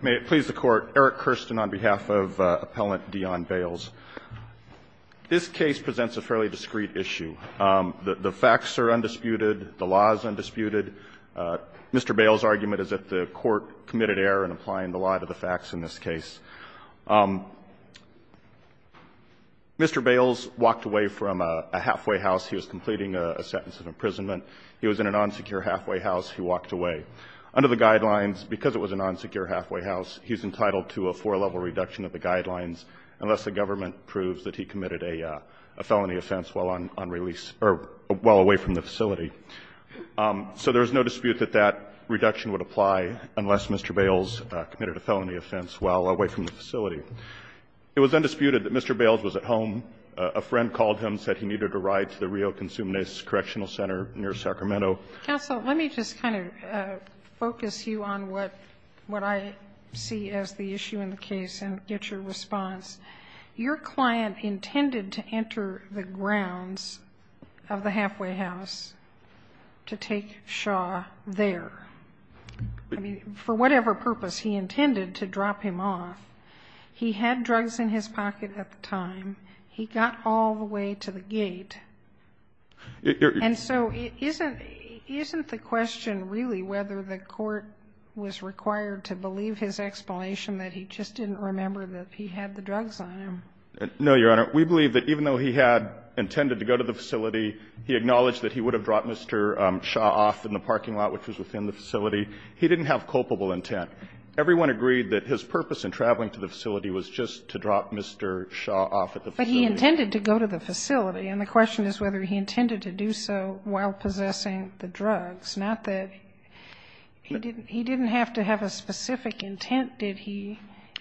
May it please the Court, Eric Kirsten on behalf of Appellant Deaon Bailes. This case presents a fairly discreet issue. The facts are undisputed, the law is undisputed. Mr. Bailes' argument is that the Court committed error in applying the law to the facts in this case. Mr. Bailes walked away from a halfway house. He was completing a sentence of imprisonment. He was in an unsecure halfway house. He walked away. Under the guidelines, because it was an unsecure halfway house, he's entitled to a four-level reduction of the guidelines unless the government proves that he committed a felony offense while on release or while away from the facility. So there is no dispute that that reduction would apply unless Mr. Bailes committed a felony offense while away from the facility. It was undisputed that Mr. Bailes was at home. A friend called him, said he needed a ride to the Rio Consumnes Correctional Center near Sacramento. Sotomayor, let me just kind of focus you on what I see as the issue in the case and get your response. Your client intended to enter the grounds of the halfway house to take Shaw there. I mean, for whatever purpose, he intended to drop him off. He had drugs in his pocket at the time. He got all the way to the gate. And so isn't the question really whether the court was required to believe his explanation that he just didn't remember that he had the drugs on him? No, Your Honor. We believe that even though he had intended to go to the facility, he acknowledged that he would have dropped Mr. Shaw off in the parking lot, which was within the facility. He didn't have culpable intent. Everyone agreed that his purpose in traveling to the facility was just to drop Mr. Shaw off at the facility. But he intended to go to the facility, and the question is whether he intended to do so while possessing the drugs, not that he didn't have to have a specific intent, did he,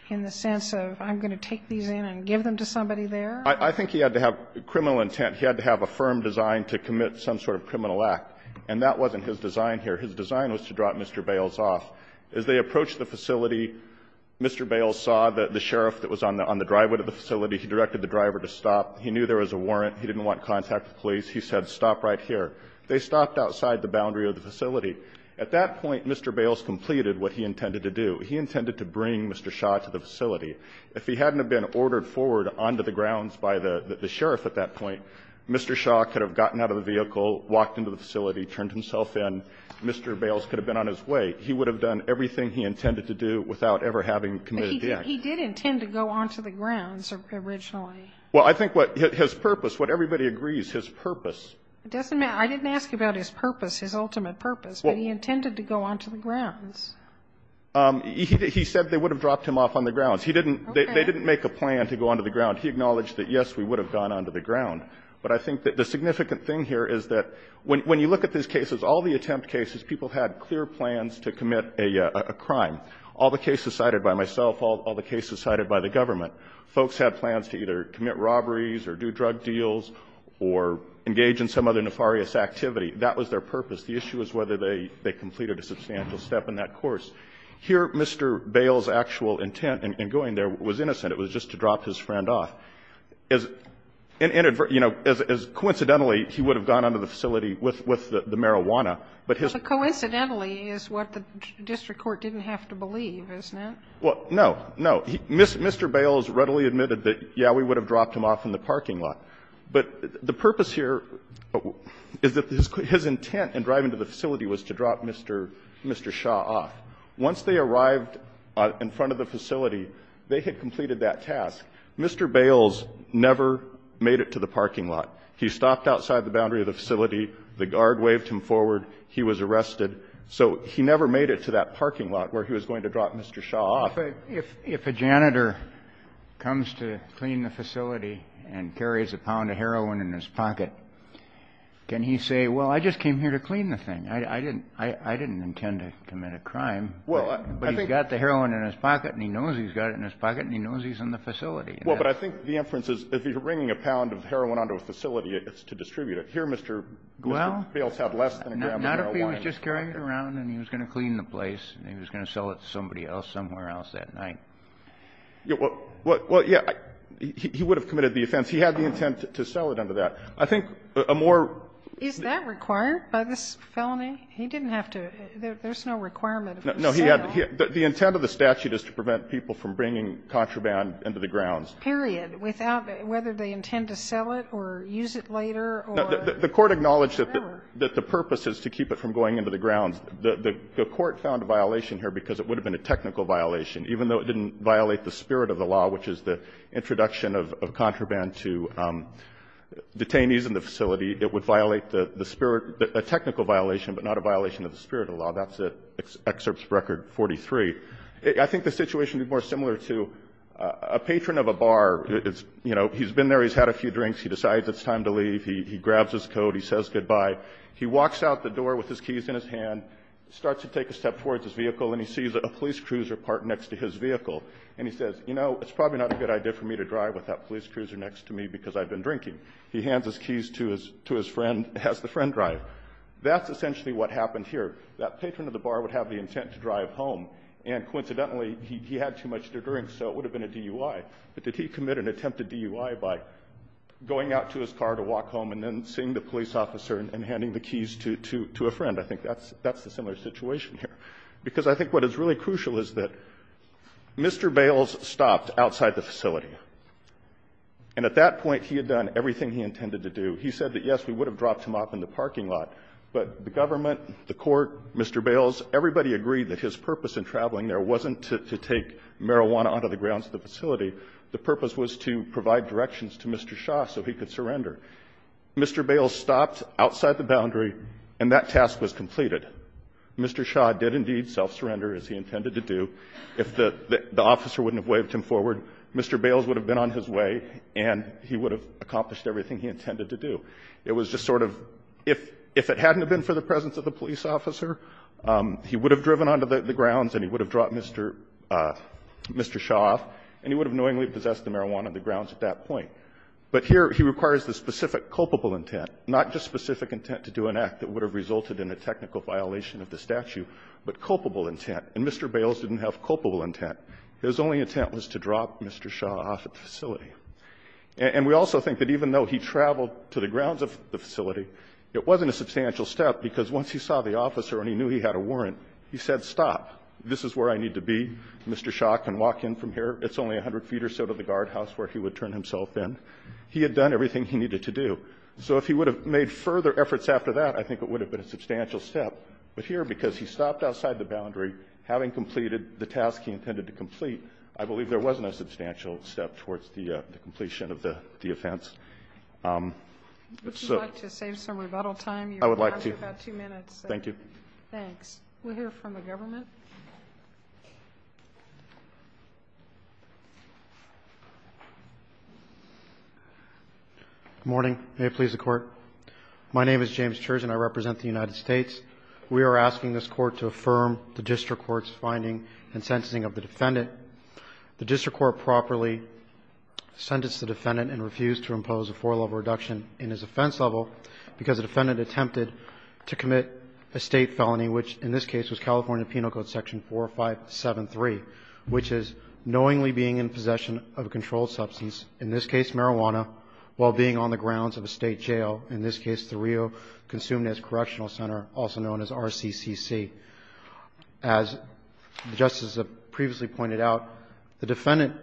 in the sense of, I'm going to take these in and give them to somebody there? I think he had to have criminal intent. He had to have a firm design to commit some sort of criminal act. And that wasn't his design here. His design was to drop Mr. Bales off. As they approached the facility, Mr. Bales saw the sheriff that was on the driveway of the facility. He directed the driver to stop. He knew there was a warrant. He didn't want contact with police. He said, stop right here. They stopped outside the boundary of the facility. At that point, Mr. Bales completed what he intended to do. He intended to bring Mr. Shaw to the facility. If he hadn't have been ordered forward onto the grounds by the sheriff at that point, Mr. Shaw could have gotten out of the vehicle, walked into the facility, turned himself in. Mr. Bales could have been on his way. He would have done everything he intended to do without ever having committed the act. He did intend to go onto the grounds originally. Well, I think what his purpose, what everybody agrees, his purpose. It doesn't matter. I didn't ask about his purpose, his ultimate purpose. But he intended to go onto the grounds. He said they would have dropped him off on the grounds. He didn't they didn't make a plan to go onto the ground. He acknowledged that, yes, we would have gone onto the ground. But I think that the significant thing here is that when you look at these cases, all the attempt cases, people had clear plans to commit a crime. All the cases cited by myself, all the cases cited by the government, folks had plans to either commit robberies or do drug deals or engage in some other nefarious activity. That was their purpose. The issue is whether they completed a substantial step in that course. Here, Mr. Bales' actual intent in going there was innocent. It was just to drop his friend off. As, you know, coincidentally, he would have gone onto the facility with the marijuana, but his ---- Sotomayor to believe, isn't it? Well, no, no. Mr. Bales readily admitted that, yeah, we would have dropped him off in the parking lot. But the purpose here is that his intent in driving to the facility was to drop Mr. Shaw off. Once they arrived in front of the facility, they had completed that task. Mr. Bales never made it to the parking lot. He stopped outside the boundary of the facility. The guard waved him forward. He was arrested. So he never made it to that parking lot where he was going to drop Mr. Shaw off. If a janitor comes to clean the facility and carries a pound of heroin in his pocket, can he say, well, I just came here to clean the thing? I didn't intend to commit a crime. Well, I think ---- But he's got the heroin in his pocket, and he knows he's got it in his pocket, and he knows he's in the facility. Well, but I think the inference is if you're bringing a pound of heroin onto a facility, it's to distribute it. Here, Mr. Bales had less than a gram of heroin. So he was just carrying it around, and he was going to clean the place, and he was going to sell it to somebody else somewhere else that night. Well, yeah. He would have committed the offense. He had the intent to sell it under that. I think a more ---- Is that required by this felony? He didn't have to ---- there's no requirement of the sale. No, he had ---- the intent of the statute is to prevent people from bringing contraband into the grounds. Period. Without ---- whether they intend to sell it or use it later or ---- The Court acknowledged that the purpose is to keep it from going into the grounds. The Court found a violation here because it would have been a technical violation. Even though it didn't violate the spirit of the law, which is the introduction of contraband to detainees in the facility, it would violate the spirit, a technical violation, but not a violation of the spirit of the law. That's Excerpt Record 43. I think the situation would be more similar to a patron of a bar. It's, you know, he's been there, he's had a few drinks, he decides it's time to leave. He grabs his coat, he says goodbye. He walks out the door with his keys in his hand, starts to take a step towards his vehicle, and he sees a police cruiser parked next to his vehicle. And he says, you know, it's probably not a good idea for me to drive with that police cruiser next to me because I've been drinking. He hands his keys to his friend, has the friend drive. That's essentially what happened here. That patron of the bar would have the intent to drive home, and coincidentally, he had too much to drink, so it would have been a DUI. But did he commit an attempted DUI by going out to his car to walk home and then seeing the police officer and handing the keys to a friend? I think that's the similar situation here. Because I think what is really crucial is that Mr. Bales stopped outside the facility. And at that point, he had done everything he intended to do. He said that, yes, we would have dropped him off in the parking lot, but the government, the court, Mr. Bales, everybody agreed that his purpose in traveling there wasn't to take marijuana onto the grounds of the facility. The purpose was to provide directions to Mr. Shah so he could surrender. Mr. Bales stopped outside the boundary, and that task was completed. Mr. Shah did indeed self-surrender, as he intended to do. If the officer wouldn't have waved him forward, Mr. Bales would have been on his way and he would have accomplished everything he intended to do. It was just sort of, if it hadn't have been for the presence of the police officer, he would have driven onto the grounds and he would have dropped Mr. Shah off, and he would have knowingly possessed the marijuana on the grounds at that point. But here, he requires the specific culpable intent, not just specific intent to do an act that would have resulted in a technical violation of the statute, but culpable intent. And Mr. Bales didn't have culpable intent. His only intent was to drop Mr. Shah off at the facility. It wasn't a substantial step, because once he saw the officer and he knew he had a warrant, he said, stop. This is where I need to be. Mr. Shah can walk in from here. It's only 100 feet or so to the guardhouse where he would turn himself in. He had done everything he needed to do. So if he would have made further efforts after that, I think it would have been a substantial step. But here, because he stopped outside the boundary, having completed the task he intended to complete, I believe there wasn't a substantial step towards the completion of the offense. So to save some rebuttal time, you have about two minutes. Thank you. Thanks. We'll hear from the government. Good morning. May it please the Court. My name is James Church and I represent the United States. We are asking this Court to affirm the district court's finding and sentencing of the defendant. The district court properly sentenced the defendant and refused to impose a four-level reduction in his offense level because the defendant attempted to commit a State felony, which in this case was California Penal Code section 4573, which is knowingly being in possession of a controlled substance, in this case marijuana, while being on the grounds of a State jail, in this case the Rio Consumnes Correctional Center, also known as RCCC. As the Justice previously pointed out, the defendant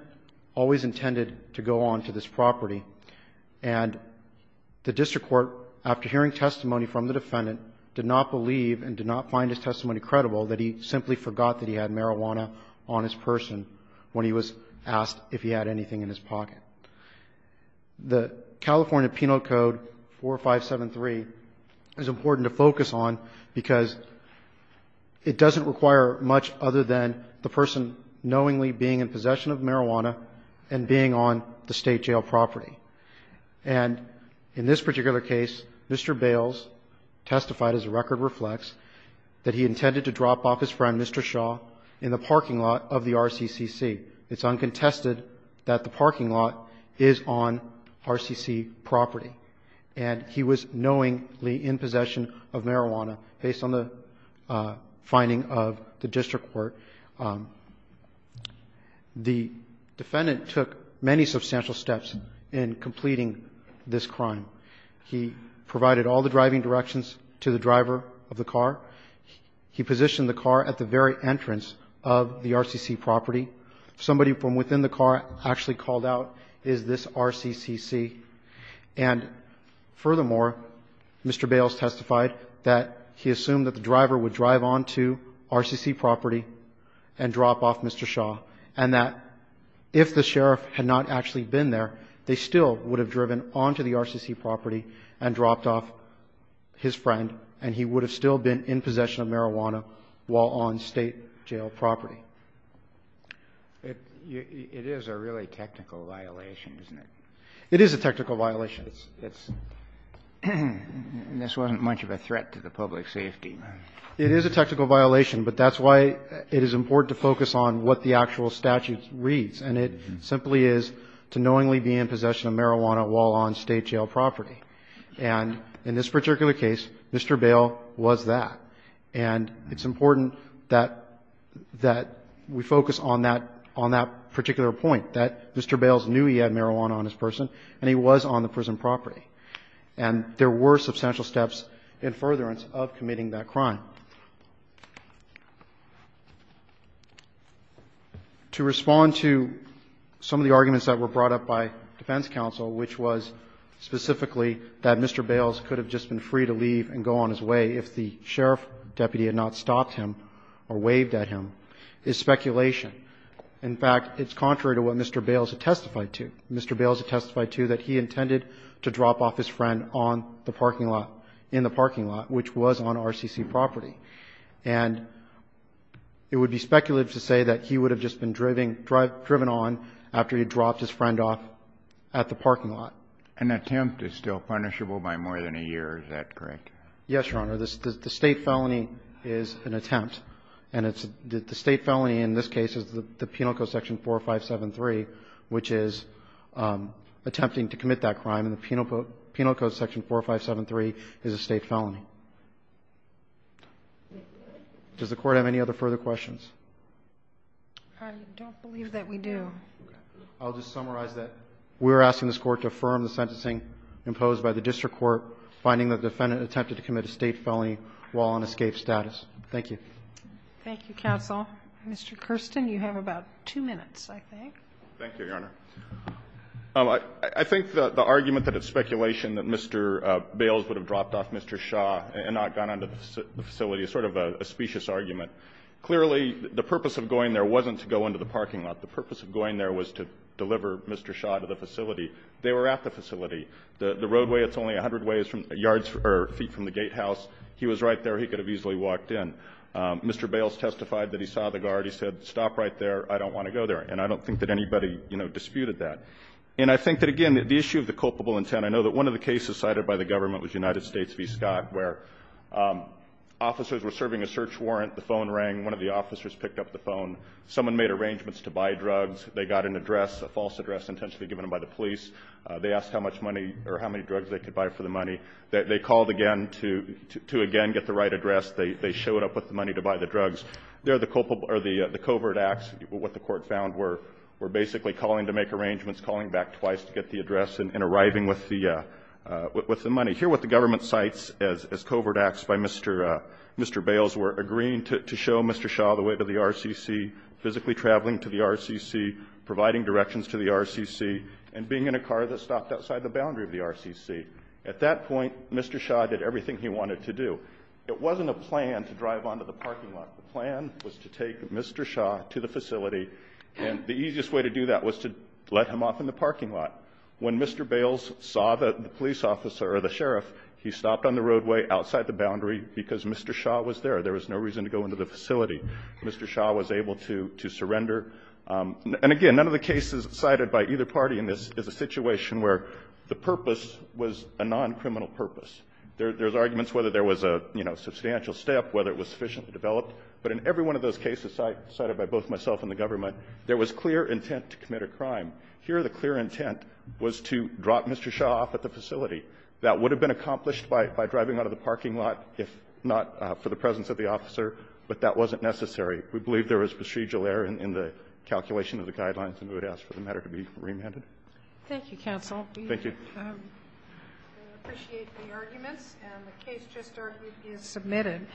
always intended to go on to this property, and the district court, after hearing testimony from the defendant, did not believe and did not find his testimony credible that he simply forgot that he had marijuana on his person when he was asked if he had anything in his pocket. The California Penal Code 4573 is important to focus on because, as I said, the defendant, it doesn't require much other than the person knowingly being in possession of marijuana and being on the State jail property. And in this particular case, Mr. Bales testified, as the record reflects, that he intended to drop off his friend, Mr. Shaw, in the parking lot of the RCCC. It's uncontested that the parking lot is on RCCC property, and he was knowingly in possession of marijuana, based on the finding of the district court. The defendant took many substantial steps in completing this crime. He provided all the driving directions to the driver of the car. He positioned the car at the very entrance of the RCCC property. Somebody from within the car actually called out, is this RCCC? And furthermore, Mr. Bales testified that he assumed that the driver would drive on to RCCC property and drop off Mr. Shaw, and that if the sheriff had not actually been there, they still would have driven on to the RCCC property and dropped off his friend, and he would have still been in possession of marijuana while on State jail property. It is a really technical violation, isn't it? It is a technical violation. It's not much of a threat to the public safety. It is a technical violation, but that's why it is important to focus on what the actual statute reads, and it simply is to knowingly be in possession of marijuana while on State jail property. And in this particular case, Mr. Bales was that. And it's important that we focus on that particular point, that Mr. Bales knew he had been on the property, and there were substantial steps in furtherance of committing that crime. To respond to some of the arguments that were brought up by defense counsel, which was specifically that Mr. Bales could have just been free to leave and go on his way if the sheriff deputy had not stopped him or waved at him, is speculation. In fact, it's contrary to what Mr. Bales testified to. Mr. Bales testified to that he intended to drop off his friend on the parking lot, in the parking lot, which was on RCC property. And it would be speculative to say that he would have just been driven on after he dropped his friend off at the parking lot. An attempt is still punishable by more than a year. Is that correct? Yes, Your Honor. The State felony is an attempt, and it's the State felony in this case is the Penal Code, attempting to commit that crime, and the Penal Code, Section 4573, is a State felony. Does the Court have any other further questions? I don't believe that we do. I'll just summarize that. We're asking this Court to affirm the sentencing imposed by the district court, finding the defendant attempted to commit a State felony while on escape status. Thank you. Thank you, counsel. Mr. Kirsten, you have about two minutes, I think. Thank you, Your Honor. I think that the argument that it's speculation that Mr. Bales would have dropped off Mr. Shaw and not gone on to the facility is sort of a specious argument. Clearly, the purpose of going there wasn't to go into the parking lot. The purpose of going there was to deliver Mr. Shaw to the facility. They were at the facility. The roadway, it's only a hundred ways from the yards or feet from the gatehouse. He was right there. He could have easily walked in. Mr. Bales testified that he saw the guard. He said, stop right there. I don't want to go there. And I don't think that anybody, you know, disputed that. And I think that, again, the issue of the culpable intent, I know that one of the cases cited by the government was United States v. Scott, where officers were serving a search warrant. The phone rang. One of the officers picked up the phone. Someone made arrangements to buy drugs. They got an address, a false address intentionally given by the police. They asked how much money or how many drugs they could buy for the money. They called again to again get the right address. They showed up with the money to buy the drugs. There the culpable or the covert acts, what the court found, were basically calling to make arrangements, calling back twice to get the address and arriving with the money. Here what the government cites as covert acts by Mr. Bales were agreeing to show Mr. Shaw the way to the RCC, physically traveling to the RCC, providing directions to the RCC, and being in a car that stopped outside the boundary of the RCC. At that point, Mr. Shaw did everything he wanted to do. It wasn't a plan to drive onto the parking lot. The plan was to take Mr. Shaw to the facility, and the easiest way to do that was to let him off in the parking lot. When Mr. Bales saw the police officer or the sheriff, he stopped on the roadway outside the boundary because Mr. Shaw was there. There was no reason to go into the facility. Mr. Shaw was able to surrender. And again, none of the cases cited by either party in this is a situation where the purpose was a non-criminal purpose. There's arguments whether there was a, you know, substantial step, whether it was sufficiently developed. But in every one of those cases cited by both myself and the government, there was clear intent to commit a crime. Here the clear intent was to drop Mr. Shaw off at the facility. That would have been accomplished by driving out of the parking lot if not for the presence of the officer, but that wasn't necessary. We believe there was procedural error in the calculation of the guidelines, and we would ask for the matter to be remanded. Thank you, counsel. Thank you. I appreciate the arguments, and the case just argued is submitted.